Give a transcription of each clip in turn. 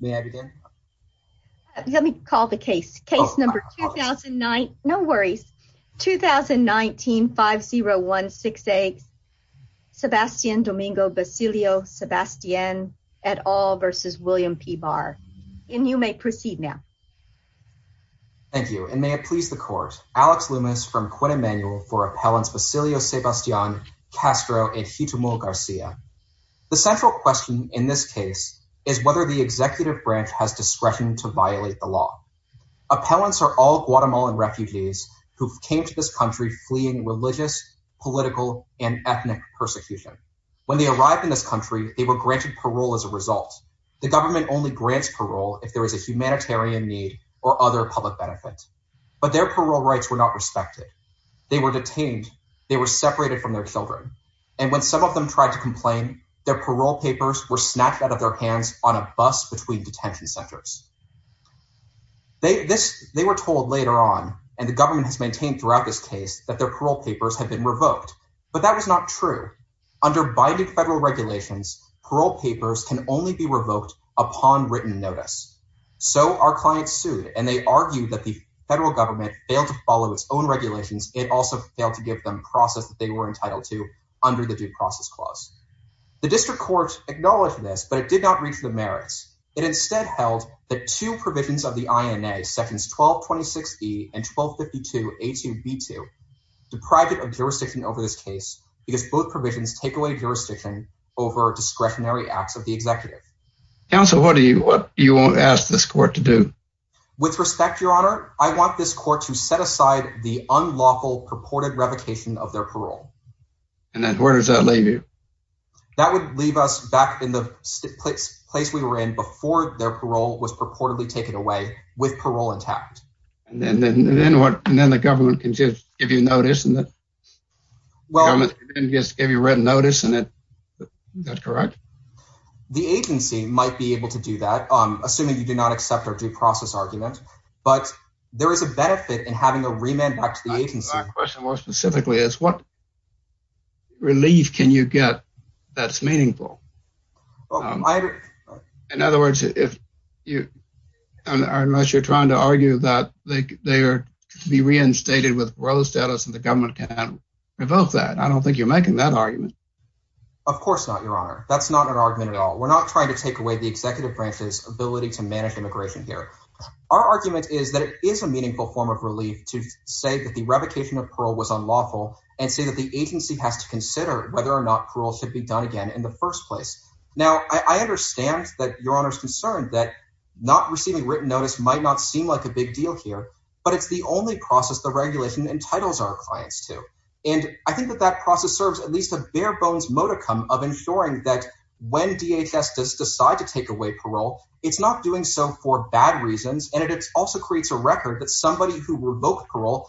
May I begin? Let me call the case. Case number 2009. No worries. 2019-5016A Sebastian Domingo-Bacilio-Sebastian et al. v. William P. Barr. And you may proceed now. Thank you and may it please the court. Alex Loomis from Quinn Emanuel for Appellants Bacilio-Sebastian, Castro, and Guitemol Garcia. The central question in this case is whether the executive branch has discretion to violate the law. Appellants are all Guatemalan refugees who came to this country fleeing religious, political, and ethnic persecution. When they arrived in this country, they were granted parole as a result. The government only grants parole if there is a humanitarian need or other public benefit. But their parole rights were not respected. They were detained. They were separated from their children. And when some of them tried to complain, their parole papers were hands on a bus between detention centers. They were told later on, and the government has maintained throughout this case, that their parole papers had been revoked. But that was not true. Under binding federal regulations, parole papers can only be revoked upon written notice. So our clients sued, and they argued that the federal government failed to follow its own regulations. It also failed to give them process that they were entitled to under the Due Process Clause. The district court acknowledged this, but it did not reach the merits. It instead held that two provisions of the INA, sections 1226E and 1252A2B2, deprive it of jurisdiction over this case, because both provisions take away jurisdiction over discretionary acts of the executive. Counsel, what do you want to ask this court to do? With respect, your honor, I want this court to set aside the unlawful purported revocation of their parole. And then where does that leave you? That would leave us back in the place we were in before their parole was purportedly taken away, with parole intact. And then the government can just give you notice, and the government can just give you written notice, and that's correct? The agency might be able to do that, assuming you do not accept our due process argument. But there is a benefit in having a remand back to the agency. My question more specifically is, relief can you get that's meaningful? In other words, unless you're trying to argue that they are to be reinstated with parole status and the government can't revoke that, I don't think you're making that argument. Of course not, your honor. That's not an argument at all. We're not trying to take away the executive branch's ability to manage immigration here. Our argument is that it is a meaningful form of relief to say that the revocation of parole was unlawful and say that the agency has to consider whether or not parole should be done again in the first place. Now I understand that your honor's concerned that not receiving written notice might not seem like a big deal here, but it's the only process the regulation entitles our clients to. And I think that that process serves at least a bare bones modicum of ensuring that when DHS does decide to take away parole, it's not doing so for bad reasons, and it also creates a record that somebody who revoked parole.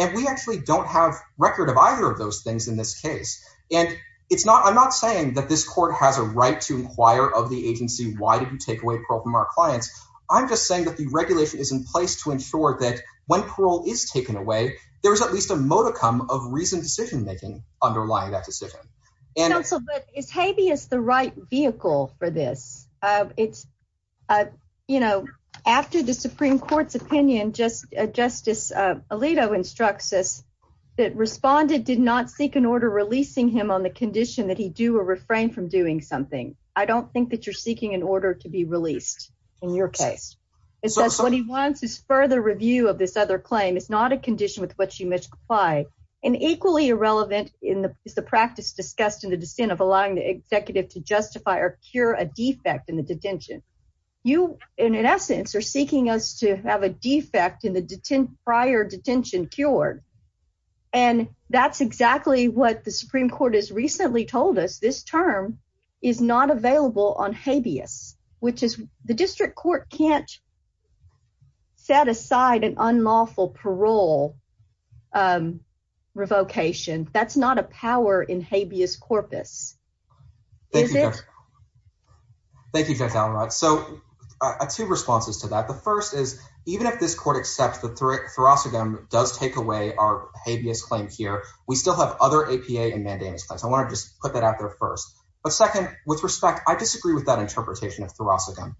And we actually don't have record of either of those things in this case. And it's not, I'm not saying that this court has a right to inquire of the agency, why did you take away parole from our clients? I'm just saying that the regulation is in place to ensure that when parole is taken away, there's at least a modicum of reasoned decision-making underlying that decision. Counsel, but is habeas the right vehicle for this? It's, you know, after the Supreme Court's opinion, Justice Alito instructs us that respondent did not seek an order releasing him on the condition that he do or refrain from doing something. I don't think that you're seeking an order to be released in your case. It says what he wants is further review of this other claim. It's not a condition with which you must comply. And equally irrelevant is the practice discussed in the dissent of allowing the executive to justify or cure a defect in the detention. You, in essence, are seeking us to have a defect in the prior detention cured. And that's exactly what the Supreme Court has recently told us. This term is not available on habeas, which is the district court can't set aside an unlawful parole revocation. That's not a power in habeas corpus. Is it? Thank you, Judge Allenrod. So two responses to that. The first is even if this court accepts that Thoracicum does take away our habeas claim here, we still have other APA and mandamus plans. I want to just put that out there first. But second, with respect, I disagree with that interpretation of Thoracicum.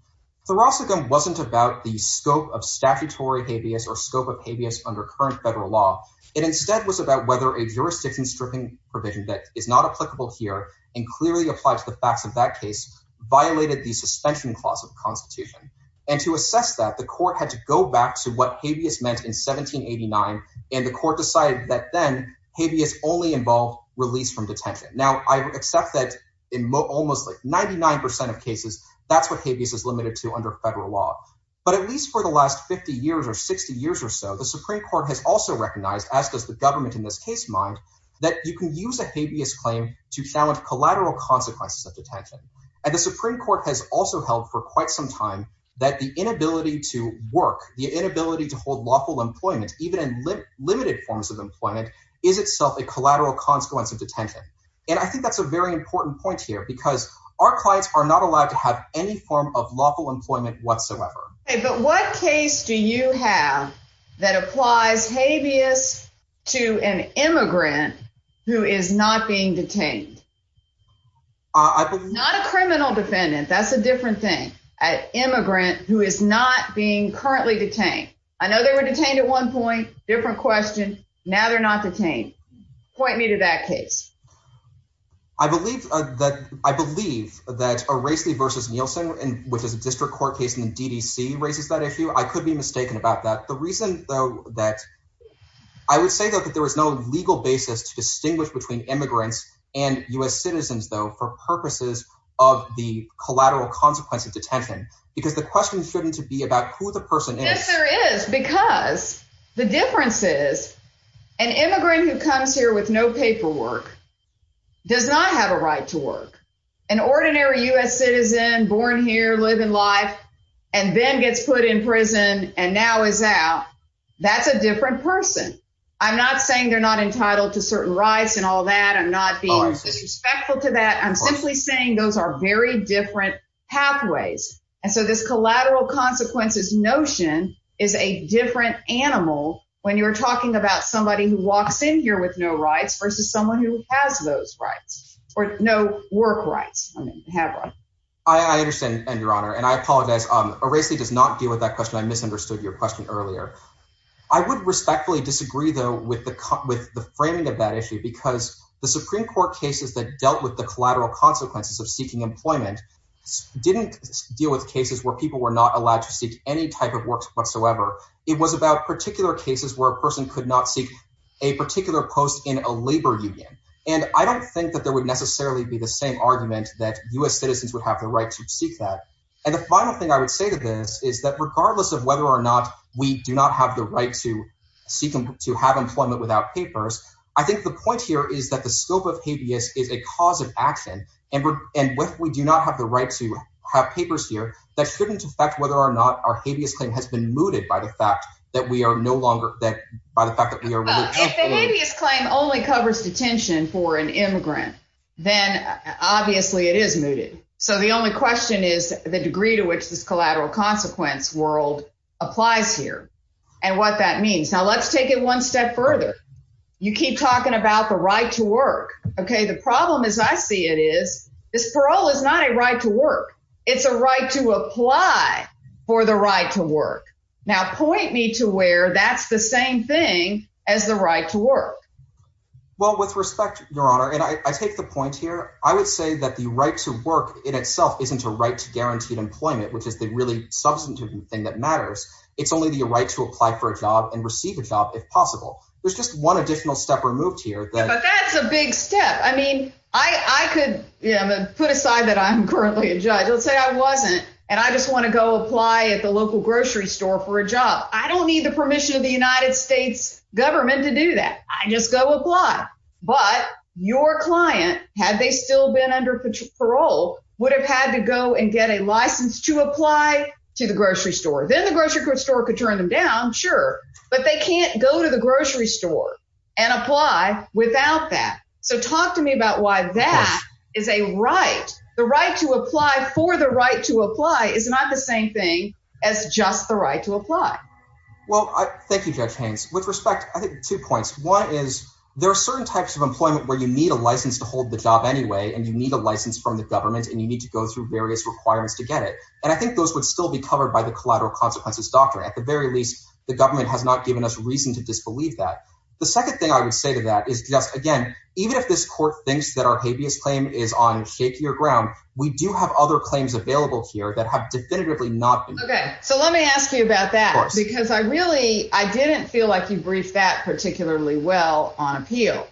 Thoracicum wasn't about the scope of statutory habeas or scope of habeas under current federal law. It instead was about whether a jurisdiction stripping provision that is not applicable here and clearly applied to the facts of that case violated the suspension clause of the Constitution. And to assess that, the court had to go back to what habeas meant in 1789. And the court decided that then habeas only involved release from detention. Now, I accept that in almost 99% of cases, that's what habeas is limited to under federal law. But at least for the last 50 years or 60 years or so, the Supreme Court has also recognized, as does the government in this case mind, that you can use a habeas claim to challenge collateral consequences of detention. And the Supreme Court has also held for quite some time that the inability to work, the inability to hold lawful employment, even in limited forms of employment, is itself a collateral consequence of detention. And I think that's a very important point here because our clients are not allowed to have any form of lawful employment whatsoever. But what case do you have that applies habeas to an immigrant who is not being detained? Not a criminal defendant, that's a different thing. An immigrant who is not being currently detained. I know they were detained at one point, different question, now they're not detained. Point me to that case. I believe that a Racely versus Nielsen, which is a district court case in the DDC, raises that issue. I could be mistaken about that. The reason, though, that I would say that there is no legal basis to distinguish between immigrants and U.S. citizens, though, for purposes of the collateral consequence of detention, because the question shouldn't be about who the person is. Yes, there is, because the difference is an immigrant who comes here with no paperwork does not have a right to work. An ordinary U.S. citizen born here, living life and then gets put in prison and now is out. That's a different person. I'm not saying they're not entitled to certain rights and all that. I'm not being disrespectful to that. I'm simply saying those are very different pathways. And so this collateral consequences notion is a different animal when you're talking about somebody who walks in here with no rights versus someone who has those rights or no work rights. I understand, Your Honor, and I apologize. A Racely does not deal with that question. I misunderstood your question earlier. I would respectfully disagree, though, with the framing of that issue, because the Supreme Court cases that dealt with the collateral consequences of seeking employment didn't deal with cases where people were not allowed to seek any type of work whatsoever. It was about particular cases where a person could not seek a particular post in a labor union. And I don't think that there would necessarily be the same argument that U.S. citizens would have the right to seek that. And the final thing I would say to this is that regardless of whether or not we do not have the right to seek to have employment without papers, I think the point here is that the scope of habeas is a cause of action. And if we do not have the right to have papers here, that shouldn't affect whether or not our habeas claim has been mooted by the fact that we are no longer that by the fact that we are. If the habeas claim only covers detention for an immigrant, then obviously it is mooted. So the only question is the degree to which this collateral consequence world applies here and what that means. Now, let's take it one step further. You keep talking about the right to work. OK, the problem is I see it is this parole is not a right to work. It's a right to apply. For the right to work now, point me to where that's the same thing as the right to work. Well, with respect, Your Honor, and I take the point here, I would say that the right to work in itself isn't a right to guaranteed employment, which is the really substantive thing that matters. It's only the right to apply for a job and receive a job if possible. There's just one additional step removed here. But that's a big step. I mean, I could put aside that I'm currently a judge. Let's say I wasn't. And I just want to go apply at the local grocery store for a job. I don't need the permission of the United States government to do that. I just go apply. But your client, had they still been under parole, would have had to go and get a license to apply to the grocery store. Then the grocery store could turn them down. Sure. But they can't go to the grocery store and apply without that. So talk to me about why that is a right. The right to apply for the right to apply is not the same thing as just the right to apply. Well, thank you, Judge Haynes. With respect, I think two points. One is there are certain types of employment where you need a license to hold the job anyway, and you need a license from the government, and you need to go through various requirements to get it. And I think those would still be covered by the collateral consequences doctrine. At the very least, the government has not given us reason to believe that. The second thing I would say to that is just again, even if this court thinks that our habeas claim is on shakier ground, we do have other claims available here that have definitively not been. Okay, so let me ask you about that. Because I really I didn't feel like you briefed that particularly well on appeal.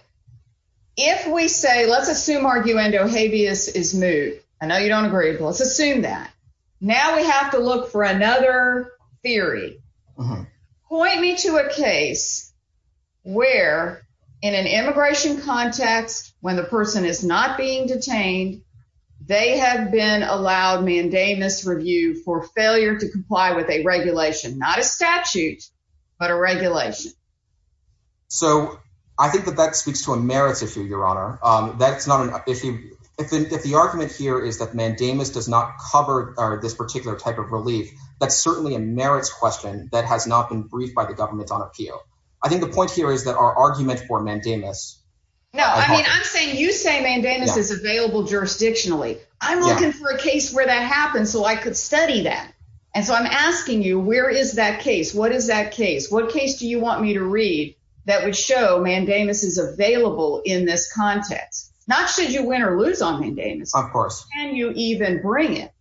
If we say let's assume arguendo habeas is moved. I know you don't that. Now we have to look for another theory. Point me to a case where in an immigration context, when the person is not being detained, they have been allowed mandamus review for failure to comply with a regulation, not a statute, but a regulation. So I think that that speaks to a merits issue, that's not an issue. If the argument here is that mandamus does not cover this particular type of relief, that's certainly a merits question that has not been briefed by the government on appeal. I think the point here is that our argument for mandamus. No, I mean, I'm saying you say mandamus is available jurisdictionally. I'm looking for a case where that happens. So I could study that. And so I'm asking you, where is that case? What is that case? What case do you want me to read that would show mandamus is available in this context, not should you win or lose on mandamus? Can you even bring it?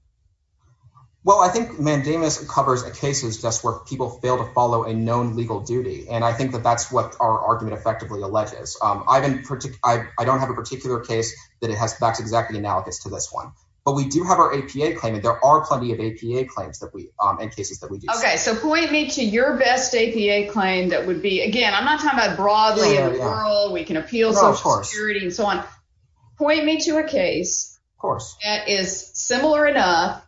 Well, I think mandamus covers a cases just where people fail to follow a known legal duty. And I think that that's what our argument effectively alleges. I don't have a particular case that it has that's exactly analogous to this one. But we do have our APA claim. And there are plenty of APA claims that we in cases that we do. Okay, so point me to your best APA claim that would be again, I'm not talking about broadly. We can appeal, of course, so on. Point me to a case, of course, that is similar enough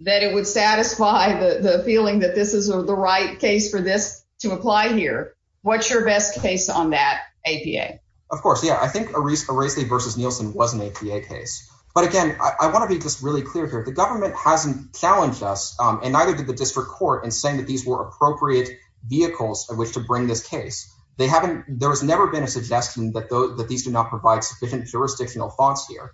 that it would satisfy the feeling that this is the right case for this to apply here. What's your best case on that APA? Of course, yeah, I think a race, a race versus Nielsen was an APA case. But again, I want to be just really clear here, the government hasn't challenged us. And neither did the district court and saying that these were they haven't, there has never been a suggestion that those that these do not provide sufficient jurisdictional fonts here.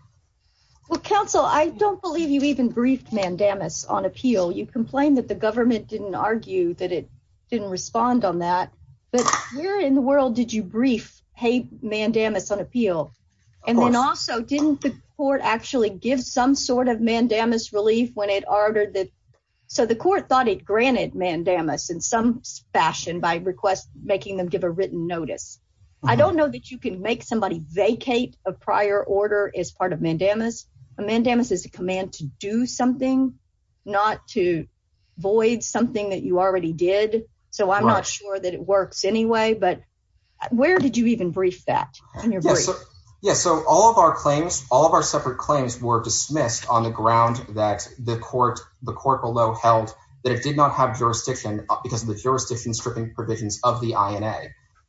Well, counsel, I don't believe you even briefed mandamus on appeal, you complain that the government didn't argue that it didn't respond on that. But where in the world did you brief? Hey, mandamus on appeal? And then also didn't the court actually give some sort of mandamus relief when it ordered that? So the court thought it granted mandamus in some fashion by request, making them give a written notice. I don't know that you can make somebody vacate a prior order as part of mandamus. A mandamus is a command to do something, not to void something that you already did. So I'm not sure that it works anyway. But where did you even brief that? Yes, so all of our claims, all of our separate claims were dismissed on the ground that the court, the court below held that it did not have jurisdiction because of the jurisdiction stripping provisions of the INA.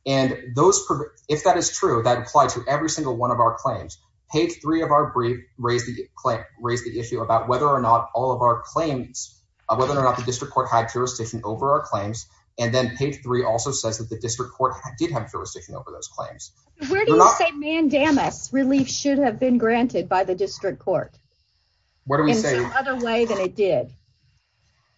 And those, if that is true, that apply to every single one of our claims. Page three of our brief raised the claim, raised the issue about whether or not all of our claims, whether or not the district court had jurisdiction over our claims. And then page three also says that the district court did have jurisdiction over those claims. Where do you say mandamus relief should have been granted by the district court? What do we say other way than it did?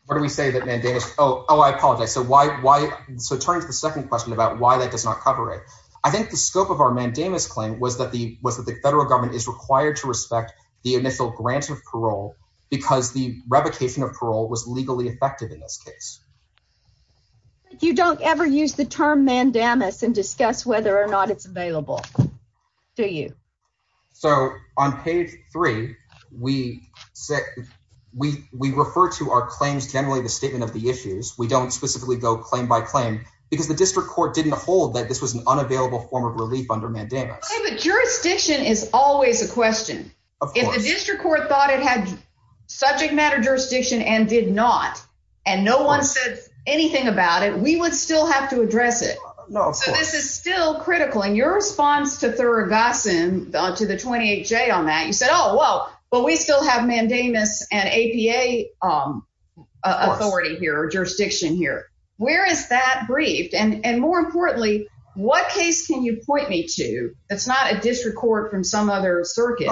What do we say that mandamus? Oh, oh, I apologize. So why, why? So turn to the second question about why that does not cover it. I think the scope of our mandamus claim was that the was that the federal government is required to respect the initial grant of parole because the revocation of parole was legally effective in this case. You don't ever use the term mandamus and discuss whether or not it's available. Do you? So on page three, we set, we, we refer to our claims, generally the statement of the issues. We don't specifically go claim by claim because the district court didn't hold that this was an unavailable form of relief under mandamus. But jurisdiction is always a question. If the district court thought it had subject matter jurisdiction and did not, and no one said anything about it, we would still have to address it. No, this is still critical. And your response to the 28 J on that you said, Oh, well, but we still have mandamus and APA authority here or jurisdiction here. Where is that briefed? And more importantly, what case can you point me to? It's not a district court from some other circuit,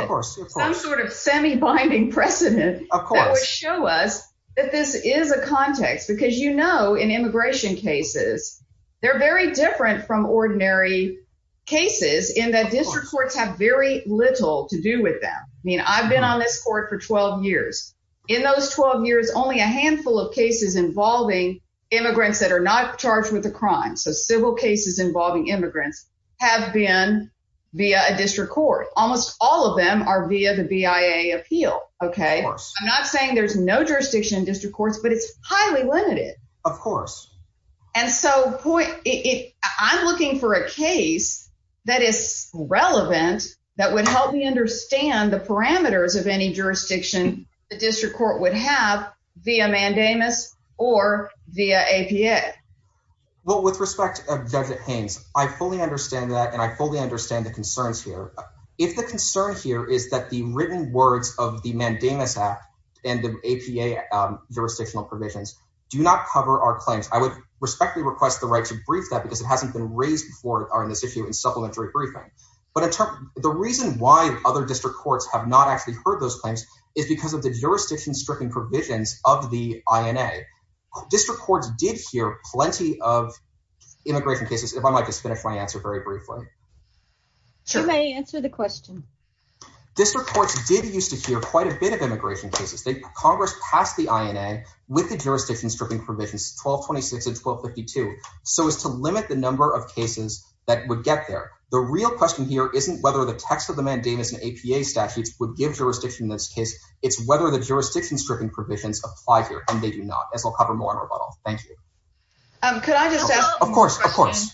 some sort of semi binding precedent, of course, show us that this is a context because, you know, in immigration cases, they're very different from ordinary cases in that district courts have very little to do with them. I mean, I've been on this court for 12 years. In those 12 years, only a handful of cases involving immigrants that are not charged with a crime. So civil cases involving immigrants have been via a district court. Almost all of them are via the BIA appeal. Okay, I'm not saying there's no jurisdiction in district courts, but it's highly limited. Of course. And so point it, I'm looking for a case that is relevant, that would help me understand the parameters of any jurisdiction, the district court would have via mandamus or via APA. Well, with respect of David Haynes, I fully understand that. And I the written words of the mandamus app, and the APA jurisdictional provisions do not cover our claims, I would respectfully request the right to brief that because it hasn't been raised before are in this issue in supplementary briefing. But the reason why other district courts have not actually heard those claims is because of the jurisdiction stripping provisions of the INA. District courts did hear plenty of immigration cases, if I might just finish my answer very short answer the question. This report did used to hear quite a bit of immigration cases that Congress passed the INA with the jurisdiction stripping provisions 1226 and 1252. So as to limit the number of cases that would get there. The real question here isn't whether the text of the mandamus and APA statutes would give jurisdiction in this case. It's whether the jurisdiction stripping provisions apply here and they do not as we'll cover more on our model. Thank you. Of course, of course.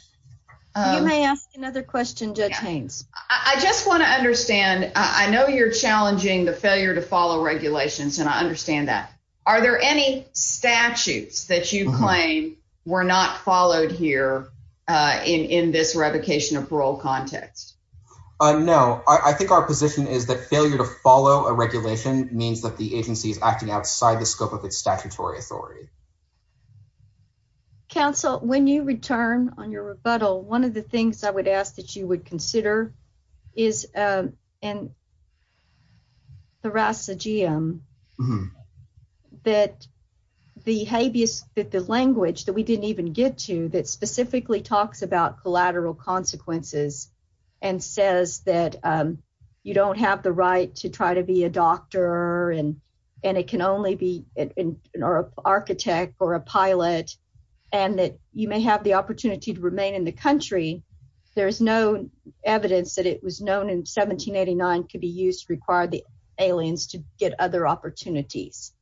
You may ask another question, Judge Haynes. I just want to understand. I know you're challenging the failure to follow regulations and I understand that. Are there any statutes that you claim were not followed here in this revocation of parole context? No, I think our position is that failure to follow a regulation means that the agency is outside the scope of its statutory authority. Counsel, when you return on your rebuttal, one of the things I would ask that you would consider is in the Rasa GM that the habeas that the language that we didn't even get to that specifically talks about collateral consequences and says that you don't have the right to try to be a doctor and it can only be an architect or a pilot and that you may have the opportunity to remain in the country. There is no evidence that it was known in 1789 could be used to require the aliens to get other opportunities.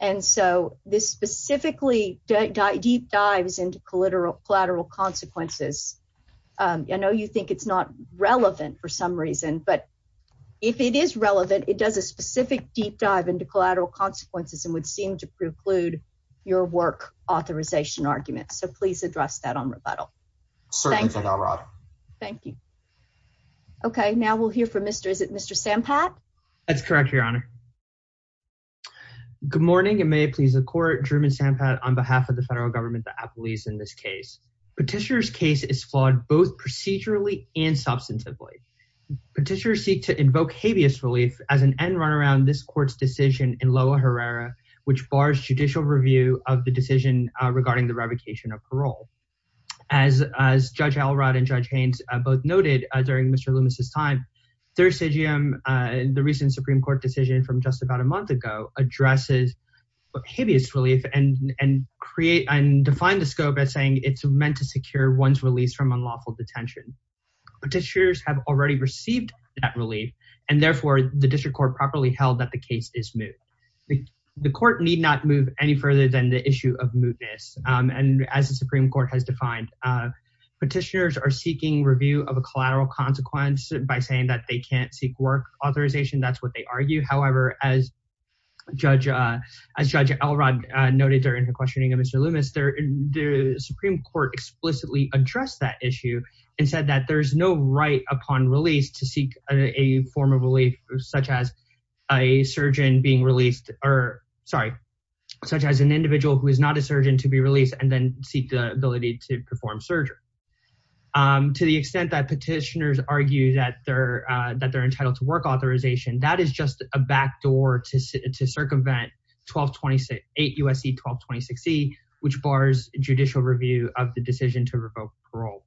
And so this specifically deep dives into collateral consequences. I know you think it's not relevant for some reason, but if it is relevant, it does a specific deep dive into collateral consequences and would seem to preclude your work authorization argument. So please address that on rebuttal. Thank you. Okay. Now we'll hear from Mr. Is it Mr. San Pat? That's correct. Your honor. Good morning and may it please the court German San Pat on behalf of the federal government, the applies in this case. Petitioner's case is flawed both procedurally and substantively. Petitioners seek to invoke habeas relief as an end run around this court's decision in lower Herrera, which bars judicial review of the decision regarding the revocation of parole. As, as judge Alrod and judge Haynes both noted during Mr. Loomis's time, their stadium and the recent Supreme court decision from just about a month ago addresses habeas relief and, and create and define the scope as saying it's meant to secure one's release from unlawful detention. Petitioners have already received that relief and therefore the district court properly held that the case is moot. The court need not move any further than the issue of mootness. And as the Supreme court has defined, petitioners are seeking review of a collateral consequence by saying that they can't seek work authorization. That's what they argue. However, as judge, as judge Elrod noted during her questioning of Mr. The Supreme court explicitly addressed that issue and said that there's no right upon release to seek a form of relief, such as a surgeon being released or sorry, such as an individual who is not a surgeon to be released and then seek the ability to perform surgery. To the extent that petitioners argue that they're that they're entitled to work authorization, that is just a backdoor to, to circumvent 12, 26, eight USC, 12, 26 C which bars judicial review of the decision to revoke parole.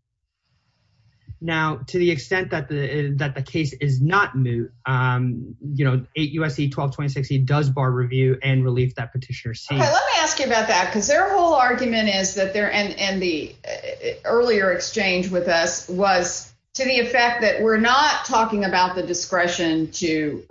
Now, to the extent that the, that the case is not new you know, eight USC, 12, 26, he does bar review and relief that petitioner. See, let me ask you about that. Cause their whole argument is that there, and, and the earlier exchange with us was to the effect that we're not talking about the discretion to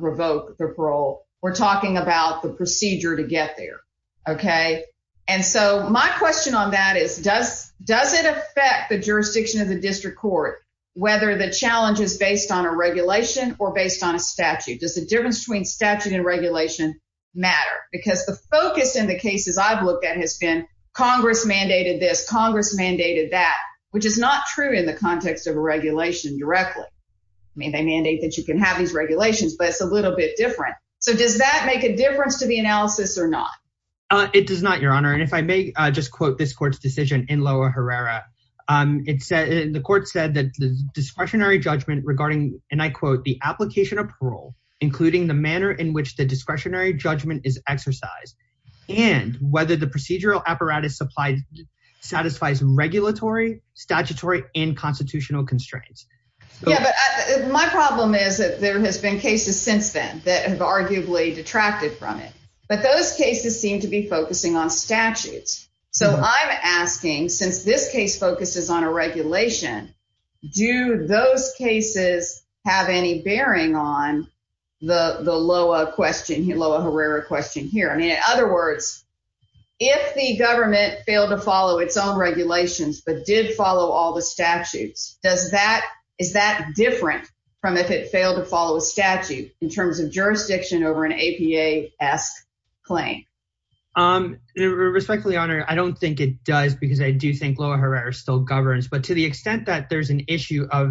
revoke the parole. We're talking about the procedure to get there. Okay. And so my question on that is, does, does it affect the jurisdiction of the district court, whether the challenge is based on a regulation or based on a statute? Does the difference between statute and regulation matter? Because the focus in the cases I've looked at has been Congress mandated this Congress mandated that, which is not true in the context of a regulation directly. I mean, they mandate that you can have these regulations, but it's a little bit different. So does that make a difference to the analysis or not? It does not your honor. And if I may just quote this court's decision in lower Herrera it said, the court said that the discretionary judgment regarding, and I quote the application of parole, including the manner in which the discretionary judgment is exercised and whether the procedural apparatus supplied satisfies regulatory statutory and constitutional constraints. Yeah. But my problem is that there has been cases since then that have arguably detracted from it, but those cases seem to be focusing on statutes. So I'm asking, since this case focuses on a regulation, do those cases have any bearing on the, the lower question, lower Herrera question here. I mean, in other words, if the government failed to follow its own regulations, but did all the statutes, does that, is that different from if it failed to follow a statute in terms of jurisdiction over an APA ask claim? Respectfully honor. I don't think it does because I do think lower Herrera still governs, but to the extent that there's an issue of,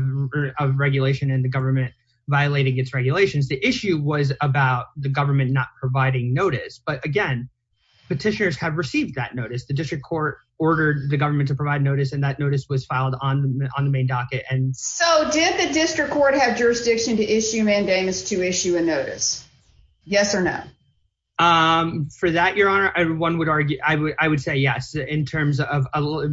of regulation and the government violating its regulations, the issue was about the government not providing notice. But again, petitioners have received that notice. The district court ordered the government to provide notice. And that notice was filed on the, on the main docket. And so did the district court have jurisdiction to issue mandamus to issue a notice? Yes or no? Um, for that, your honor, everyone would argue, I would, I would say yes, in terms of,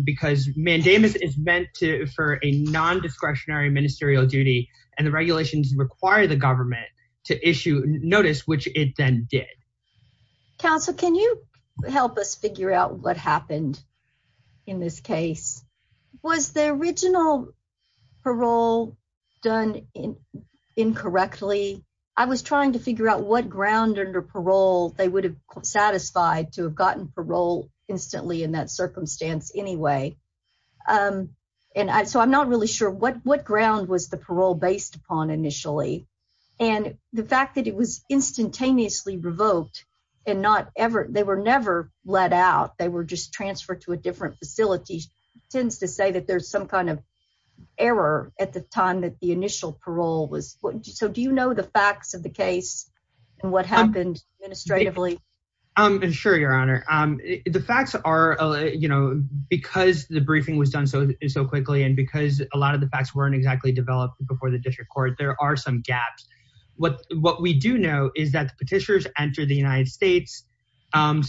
because mandamus is meant to, for a non-discretionary ministerial duty and the regulations require the government to issue notice, which it then did. Counsel, can you help us figure out what happened in this case? Was the original parole done incorrectly? I was trying to figure out what ground under parole they would have satisfied to have gotten parole instantly in that circumstance anyway. Um, and I, so I'm not really sure what, what ground was the parole based upon initially and the fact that it was instantaneously revoked and not ever, they were never let out. They were just transferred to a different facility tends to say that there's some kind of error at the time that the initial parole was. So do you know the facts of the case and what happened administratively? Um, sure, your honor, um, the facts are, you know, because the briefing was done so, so quickly, and because a lot of the facts weren't exactly developed before the district court, there are some gaps. What, what we do know is that the petitioners entered the United States, um,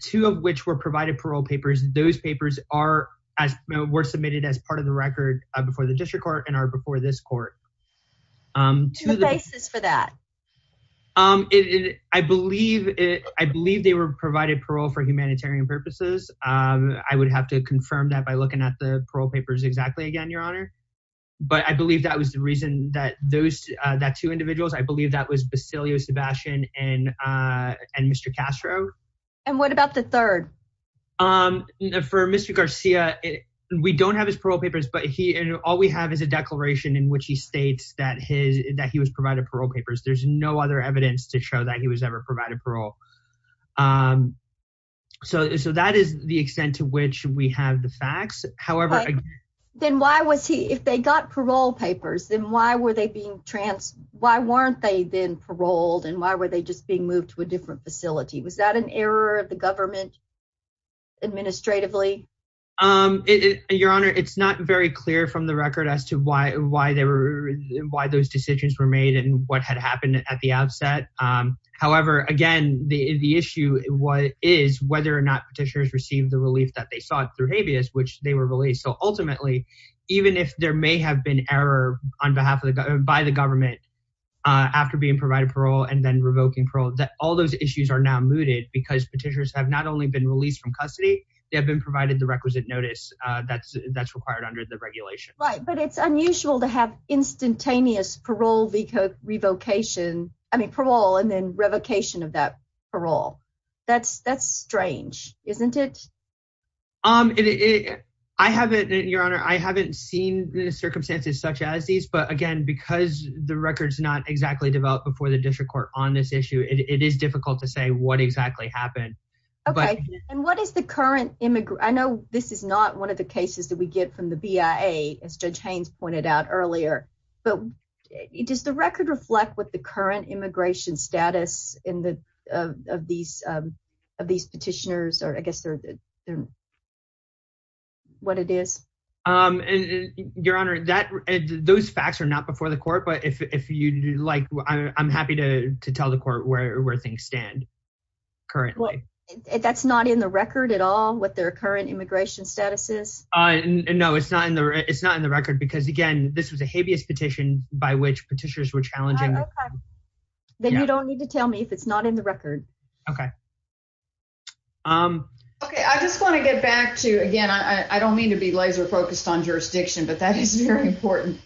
two of which were provided parole papers. Those papers are as were submitted as part of the record before the district court and are before this court. Um, to the basis for that. Um, it, I believe it, I believe they were provided parole for humanitarian purposes. Um, I would have to confirm that by looking at the parole papers exactly again, your honor. But I believe that was the reason that those, uh, that two individuals, I believe that was Basilio Sebastian and, uh, and Mr. Castro. And what about the third? Um, for Mr. Garcia, we don't have his parole papers, but he, all we have is a declaration in which he states that his, that he was provided parole papers. There's no other evidence to show that he was ever provided parole. Um, so, so that is the extent to which we have the Why weren't they then paroled and why were they just being moved to a different facility? Was that an error of the government administratively? Um, your honor, it's not very clear from the record as to why, why they were, why those decisions were made and what had happened at the outset. Um, however, again, the, the issue is whether or not petitioners received the relief that they sought through habeas, which they were released. So ultimately, even if there may have been error on behalf of the, by the government, uh, after being provided parole and then revoking parole, that all those issues are now mooted because petitioners have not only been released from custody, they have been provided the requisite notice, uh, that's, that's required under the regulation. Right. But it's unusual to have instantaneous parole, revocation, I mean, parole, and then revocation of that parole. That's, that's strange, isn't it? Um, it, it, I haven't, your honor, I haven't seen the circumstances such as these, but again, because the records not exactly developed before the district court on this issue, it is difficult to say what exactly happened. Okay. And what is the current immigrant? I know this is not one of the cases that we get from the BIA as judge Haynes pointed out earlier, but it does the record reflect what the current immigration status in the, of, of these, um, of these petitioners, or I guess they're, they're, what it is. Um, and your honor that those facts are not before the court, but if, if you'd like, I'm happy to tell the court where, where things stand currently. That's not in the record at all, what their current immigration status is. Uh, no, it's not in the, it's not in the record because again, this was a habeas petition by which petitioners were challenging. Then you don't need to tell me if it's not in the record. Okay. Um, okay. I just want to get back to, again, I don't mean to be laser focused on jurisdiction, but that is very important.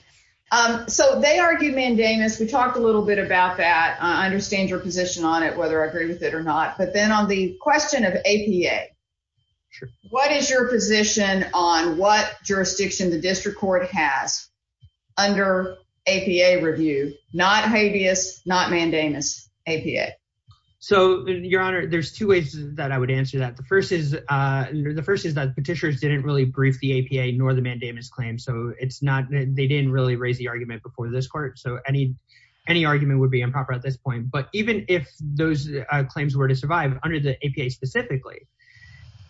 Um, so they argued mandamus. We talked a little bit about that. I understand your position on it, whether I agree with it or not, but then on the question of APA, what is your position on what jurisdiction the APA? So your honor, there's two ways that I would answer that. The first is, uh, the first is that petitioners didn't really brief the APA nor the mandamus claim. So it's not, they didn't really raise the argument before this court. So any, any argument would be improper at this point. But even if those claims were to survive under the APA specifically,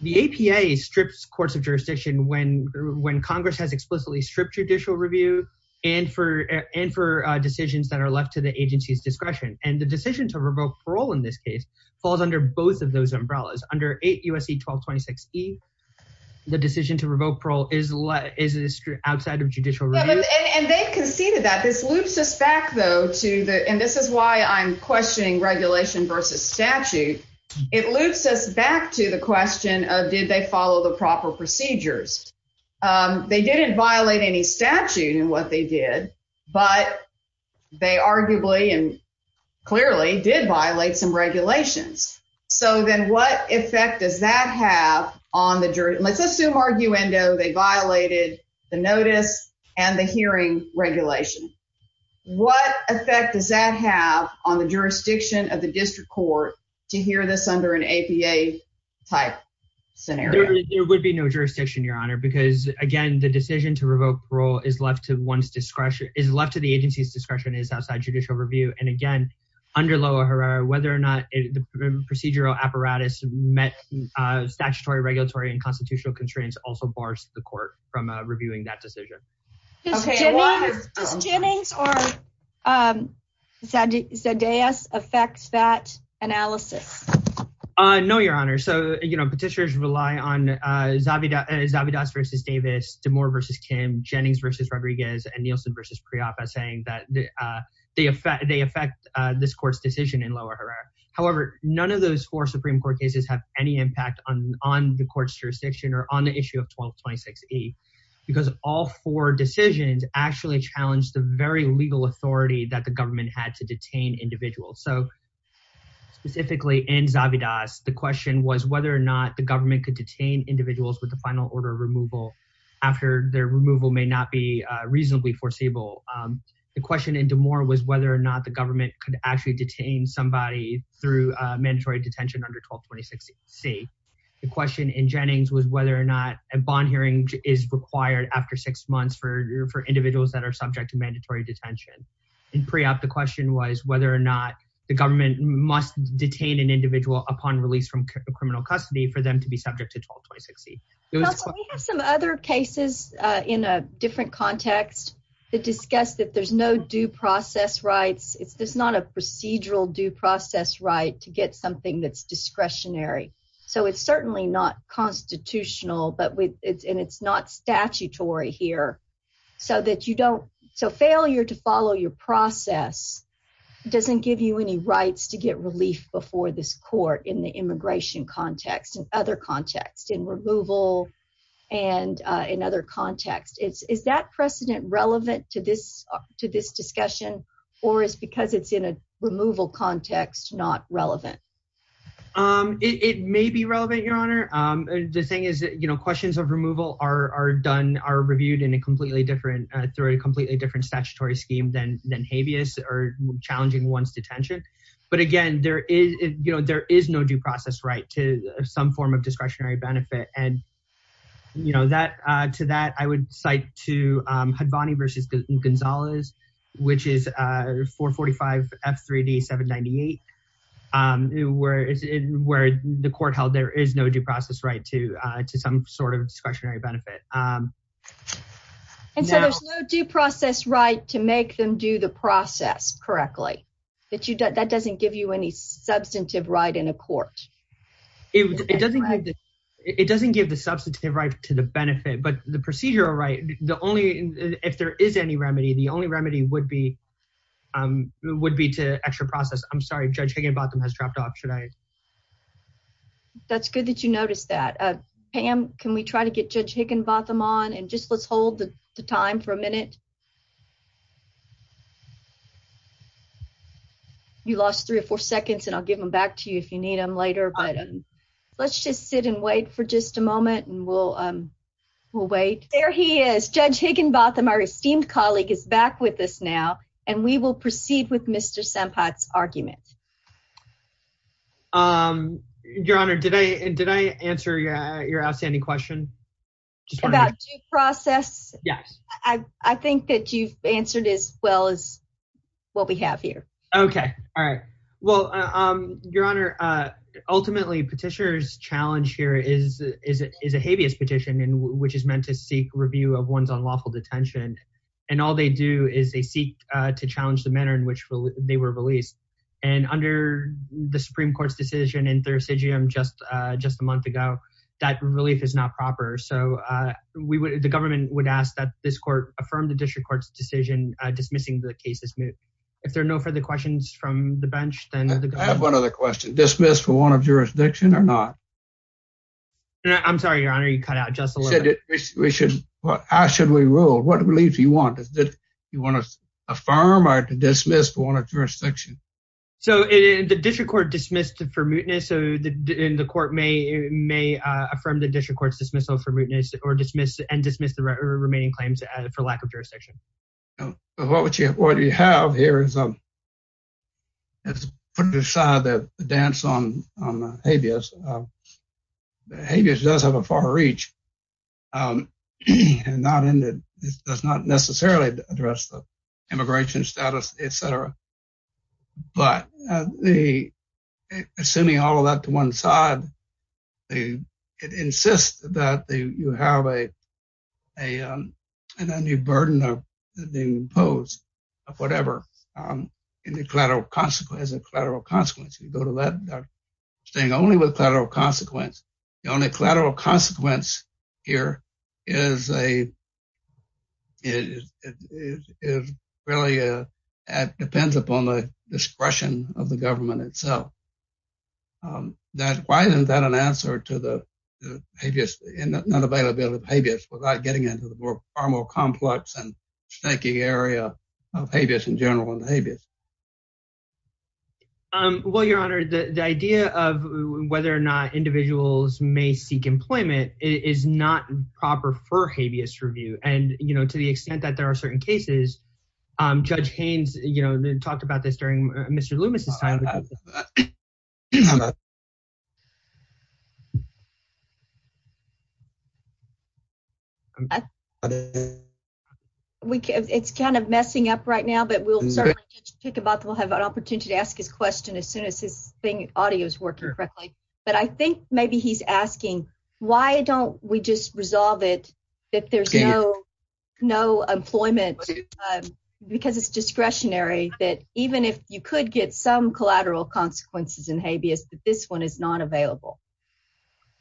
the APA strips courts of jurisdiction when, when Congress has explicitly stripped judicial review and for, and for decisions that are left to the agency's discretion. And the decision to revoke parole in this case falls under both of those umbrellas under eight USC 1226 E the decision to revoke parole is less, is it outside of judicial review? And they conceded that this loops us back though to the, and this is why I'm questioning regulation versus statute. It loops us back to the question of, did they follow the proper procedures? Um, they didn't violate any statute and what they did, but they arguably and clearly did violate some regulations. So then what effect does that have on the jury? Let's assume arguendo, they violated the notice and the hearing regulation. What effect does that have on the jurisdiction of the district court to hear this under an APA type scenario? There would be no jurisdiction, your honor, because again, the decision to is left to the agency's discretion is outside judicial review. And again, under lower Herrera, whether or not the procedural apparatus met statutory regulatory and constitutional constraints also bars the court from reviewing that decision. Does Jennings or, um, Zadeos affect that analysis? Uh, no, your honor. So, you know, petitioners rely on, uh, Zavidas versus Davis, to more versus Kim Jennings versus Rodriguez and Nielsen versus pre-op as saying that, uh, they affect, they affect, uh, this court's decision in lower Herrera. However, none of those four Supreme court cases have any impact on, on the court's jurisdiction or on the issue of 1226 E because all four decisions actually challenged the very legal authority that the government had to detain individuals. So specifically in Zavidas, the question was whether or not the government could detain individuals with the final order of removal after their removal may not be, uh, reasonably forcible. Um, the question in DeMore was whether or not the government could actually detain somebody through a mandatory detention under 1226 C. The question in Jennings was whether or not a bond hearing is required after six months for, for individuals that are subject to mandatory detention. In pre-op, the question was whether or not the government must detain an for them to be subject to 1226 C. We have some other cases, uh, in a different context that discussed that there's no due process rights. It's, there's not a procedural due process right to get something that's discretionary. So it's certainly not constitutional, but with it's, and it's not statutory here so that you don't. So failure to follow your process doesn't give you any rights to get relief before this court in the immigration context and other contexts in removal and, uh, in other contexts, it's, is that precedent relevant to this, to this discussion or is because it's in a removal context, not relevant. Um, it, it may be relevant, your honor. Um, the thing is, you know, questions of removal are, are done, are reviewed in a completely different, uh, through a completely different statutory scheme than, than habeas or challenging once detention. But again, there is, you know, there is no due process right to some form of discretionary benefit. And you know, that, uh, to that, I would cite to, um, Hadvani versus Gonzalez, which is, uh, 445 F3D 798. Um, where the court held, there is no due process, right. To, uh, to some sort of discretionary benefit. Um, and so there's no due process, right. To make them do the process correctly that you don't, that doesn't give you any substantive right in a court. It doesn't, it doesn't give the substantive right to the benefit, but the procedure, right. The only, if there is any remedy, the only remedy would be, um, would be to extra process. I'm sorry. Judge Higginbotham has dropped off. Should I, that's good that you noticed that, uh, Pam, can we try to get judge Higginbotham on and just let's hold the time for a minute. You lost three or four seconds and I'll give them back to you if you need them later, but let's just sit and wait for just a moment. And we'll, um, we'll wait there. He is judge Higginbotham. Our esteemed colleague is back with us now, and we will proceed with Mr. Sempat's argument. Um, your honor, did I, did I answer your, uh, your outstanding question? About due process. Yes. I, I think that you've answered as well as what we have here. Okay. All right. Well, um, your honor, uh, ultimately petitioner's challenge here is, is, is a habeas petition and which is meant to seek review of one's unlawful detention. And all they do is they seek, uh, to challenge the manner in which they were released. And, um, under the Supreme court's decision in Thursidgium just, uh, just a month ago, that relief is not proper. So, uh, we would, the government would ask that this court affirm the district court's decision, uh, dismissing the cases. If there are no further questions from the bench, then I have one other question dismissed for one of jurisdiction or not. I'm sorry, your honor, you cut out just a little bit. We should, how should we rule? What relief you want is that you want to affirm or to dismiss for one of jurisdiction? So in the district court dismissed for mootness, so the, in the court may, may, uh, affirm the district court's dismissal for mootness or dismiss and dismiss the remaining claims for lack of jurisdiction. What would you, what do you have here is, um, it's putting aside that the dance on, on the habeas, um, the habeas does have a far reach. Um, and not in that does not necessarily address the immigration status, et cetera. But, uh, the, uh, assuming all of that to one side, they insist that the, you have a, a, um, and then the burden of the pose of whatever, um, in the collateral consequence collateral consequence, you go to that thing only with consequence. The only collateral consequence here is a, is, is, is really, uh, at depends upon the discretion of the government itself. Um, that, why isn't that an answer to the habeas and unavailability of habeas without getting into the more, far more complex and staking area of habeas in general and the habeas. Um, well, your honor, the, the idea of whether or not individuals may seek employment is not proper for habeas review. And, you know, to the extent that there are certain cases, um, judge Haynes, you know, talked about this during Mr. Loomis. It's kind of messing up right now, but we'll certainly take about that. We'll have an opportunity to ask his question as soon as audio is working correctly. But I think maybe he's asking why don't we just resolve it? If there's no, no employment, um, because it's discretionary that even if you could get some collateral consequences in habeas, but this one is not available.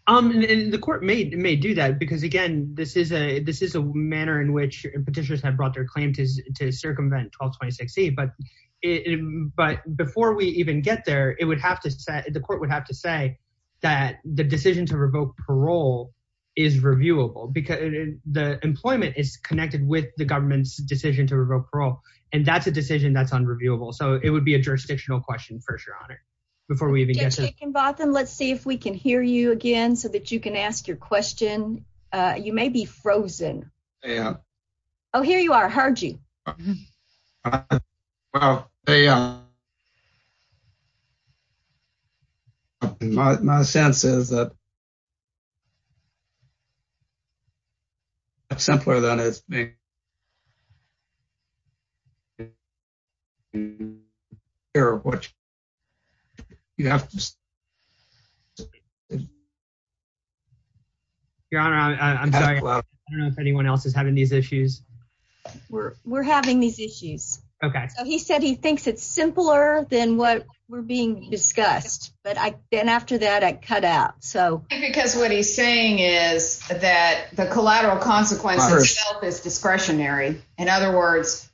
Um, and the court may, may do that because again, this is a, this is a manner in which petitioners have brought their it, but before we even get there, it would have to set, the court would have to say that the decision to revoke parole is reviewable because the employment is connected with the government's decision to revoke parole. And that's a decision that's unreviewable. So it would be a jurisdictional question for sure. Before we even get to it, let's see if we can hear you again so that you can ask your question. Uh, you may be frozen. Oh, here you are. Well, they, um, my, my sense is that it's simpler than it is. Your honor, I'm sorry. I don't know if anyone else is having these issues. We're, we're having these issues. Okay. So he said, he thinks it's simpler than what we're being discussed. But I, then after that, I cut out. So because what he's saying is that the collateral consequences is discretionary. In other words,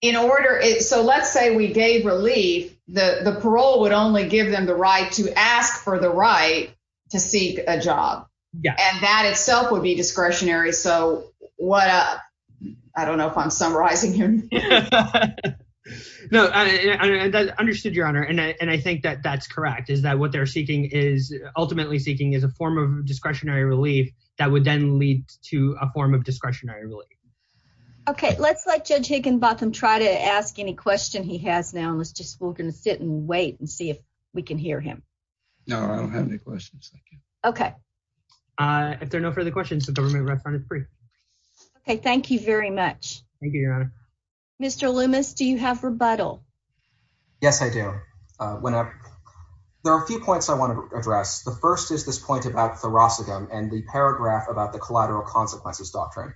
in order it, so let's say we gave relief, the parole would only give them the right to ask for the right to seek a job and that itself would be discretionary. So what, uh, I don't know if I'm summarizing him. No, I understood your honor. And I, and I think that that's correct is that what they're seeking is ultimately seeking is a form of discretionary relief that would then lead to a form of discretionary relief. Okay. Let's let judge Higginbotham try to ask any question he has now. And let's just, we're going to sit and wait and see if we can hear him. No, I don't have any questions. Okay. Uh, if there are no further questions, the government restaurant is free. Okay. Thank you very much. Mr. Loomis, do you have rebuttal? Yes, I do. Uh, whenever there are a few points I want to address, the first is this point about thoracic and the paragraph about the collateral consequences doctrine.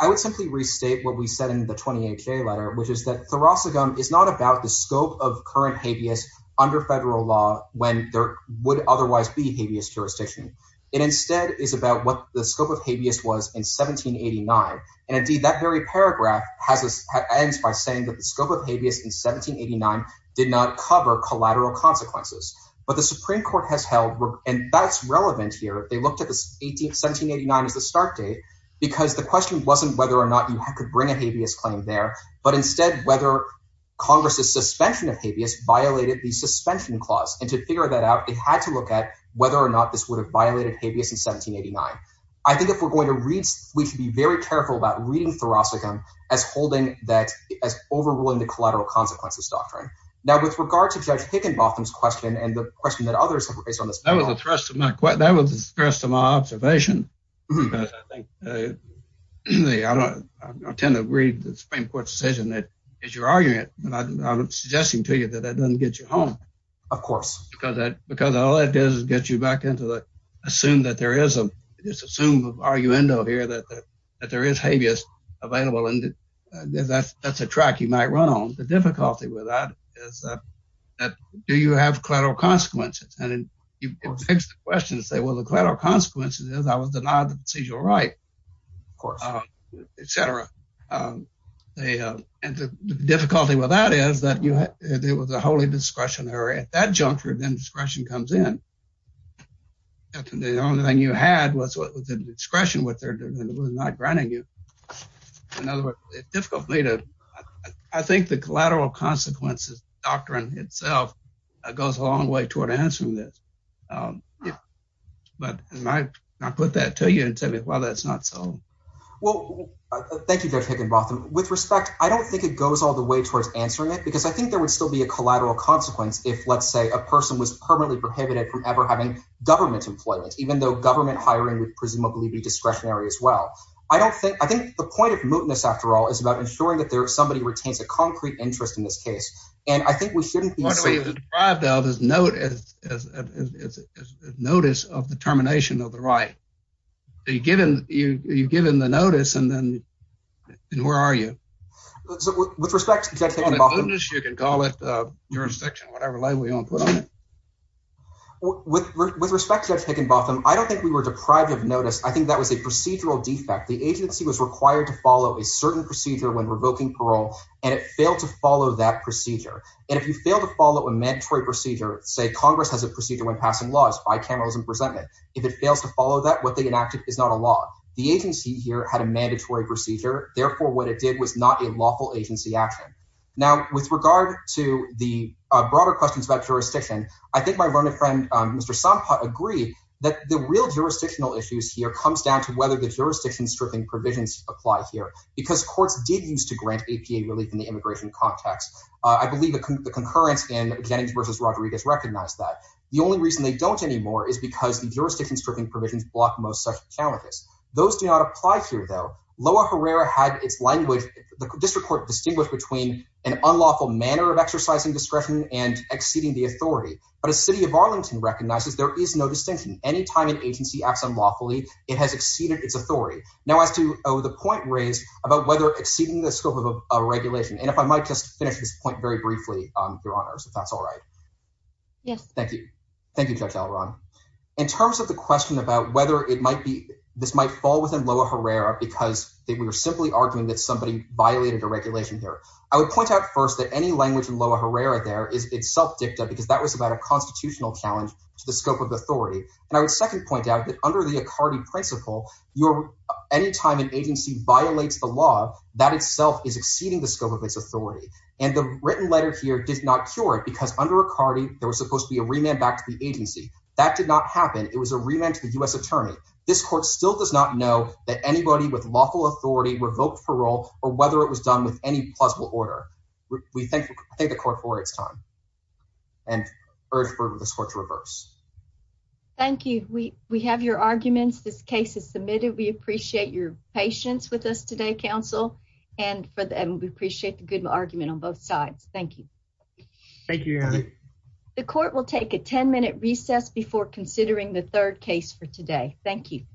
I would simply restate what we said in the 28 K letter, which is that thoracic gum is not about the scope of current habeas under federal law when there would otherwise be habeas jurisdiction. It instead is about what the scope of habeas was in 1789. And indeed that very paragraph has ends by saying that the scope of habeas in 1789 did not cover collateral consequences, but the Supreme court has held. And that's relevant here. They looked at the 18th, 1789 is the start date because the question wasn't whether or not you could bring a habeas claim there, but instead whether Congress suspension of habeas violated the suspension clause. And to figure that out, it had to look at whether or not this would have violated habeas in 1789. I think if we're going to read, we should be very careful about reading thoracic gum as holding that as overruling the collateral consequences doctrine. Now, with regard to judge Hickenbotham's question and the question that others have raised on this, that was a thrust of my question. That was the stress of my observation. Because I think, I tend to read the Supreme court's decision that as you're arguing it, and I'm suggesting to you that that doesn't get you home. Of course. Because that, because all that does is get you back into the, assume that there is a, just assume of arguendo here that, that there is habeas available and that's, that's a track you might run on. The difficulty with that is that, do you have collateral consequences? And it begs the question to say, well, the collateral consequences is I was denied the procedural right. Of course. Et cetera. They, and the difficulty with that is that you had, there was a holy discretionary at that juncture, then discretion comes in. The only thing you had was the discretion with not granting you. In other words, it's difficult for me to, I think the collateral consequences doctrine itself goes a long way toward answering this. But I put that to you and tell me why that's not so. Well, thank you, Dr. Higginbotham. With respect, I don't think it goes all the way towards answering it because I think there would still be a collateral consequence. If let's say a person was permanently prohibited from ever having government employment, even though government hiring would presumably be discretionary as well. I don't think, I think the point of mootness after all is about ensuring that there is somebody retains a concrete interest in this case. And I think we shouldn't be deprived of his note as, as, as, as notice of the termination of the right. Are you given, you, you've given the notice and then where are you? So with respect, you can call it a jurisdiction, whatever label you want to put on it. With respect to Higginbotham, I don't think we were deprived of notice. I think that was a procedural defect. The agency was required to follow a certain procedure when revoking parole, and it failed to follow that procedure. And if you fail to follow a mandatory procedure, say Congress has a procedure when passing laws, bicameral is in presentment. If it fails to follow that what they enacted is not a law. The agency here had a mandatory procedure. Therefore, what it did was not a lawful agency action. Now with regard to the broader questions about jurisdiction, I think my learned friend, Mr. Sampa agree that the real jurisdictional issues here comes down to whether the jurisdiction stripping provisions apply here because courts did use to grant APA relief in the immigration context. I believe the concurrence in Jennings versus Rodriguez recognized that the only reason they don't anymore is because the jurisdiction stripping provisions block most such challenges. Those do not apply here though. Loa Herrera had its language. The district court distinguished between an unlawful manner of exercising discretion and exceeding the authority, but a city of Arlington recognizes there is no distinction. Anytime an agency acts unlawfully, it has exceeded its authority. Now as to the point raised about exceeding the scope of a regulation, and if I might just finish this point very briefly, Your Honors, if that's all right. Yes. Thank you. Thank you, Judge Alron. In terms of the question about whether this might fall within Loa Herrera because we were simply arguing that somebody violated a regulation here, I would point out first that any language in Loa Herrera there is itself dicta because that was about a constitutional challenge to the scope of authority. I would second point out that under the Accardi principle, anytime an agency violates the that itself is exceeding the scope of its authority, and the written letter here did not cure it because under Accardi there was supposed to be a remand back to the agency. That did not happen. It was a remand to the U.S. attorney. This court still does not know that anybody with lawful authority revoked parole or whether it was done with any plausible order. We thank the court for its time and urge for this court to reverse. Thank you. We have your and we appreciate the good argument on both sides. Thank you. Thank you, Your Honor. The court will take a 10-minute recess before considering the third case for today. Thank you.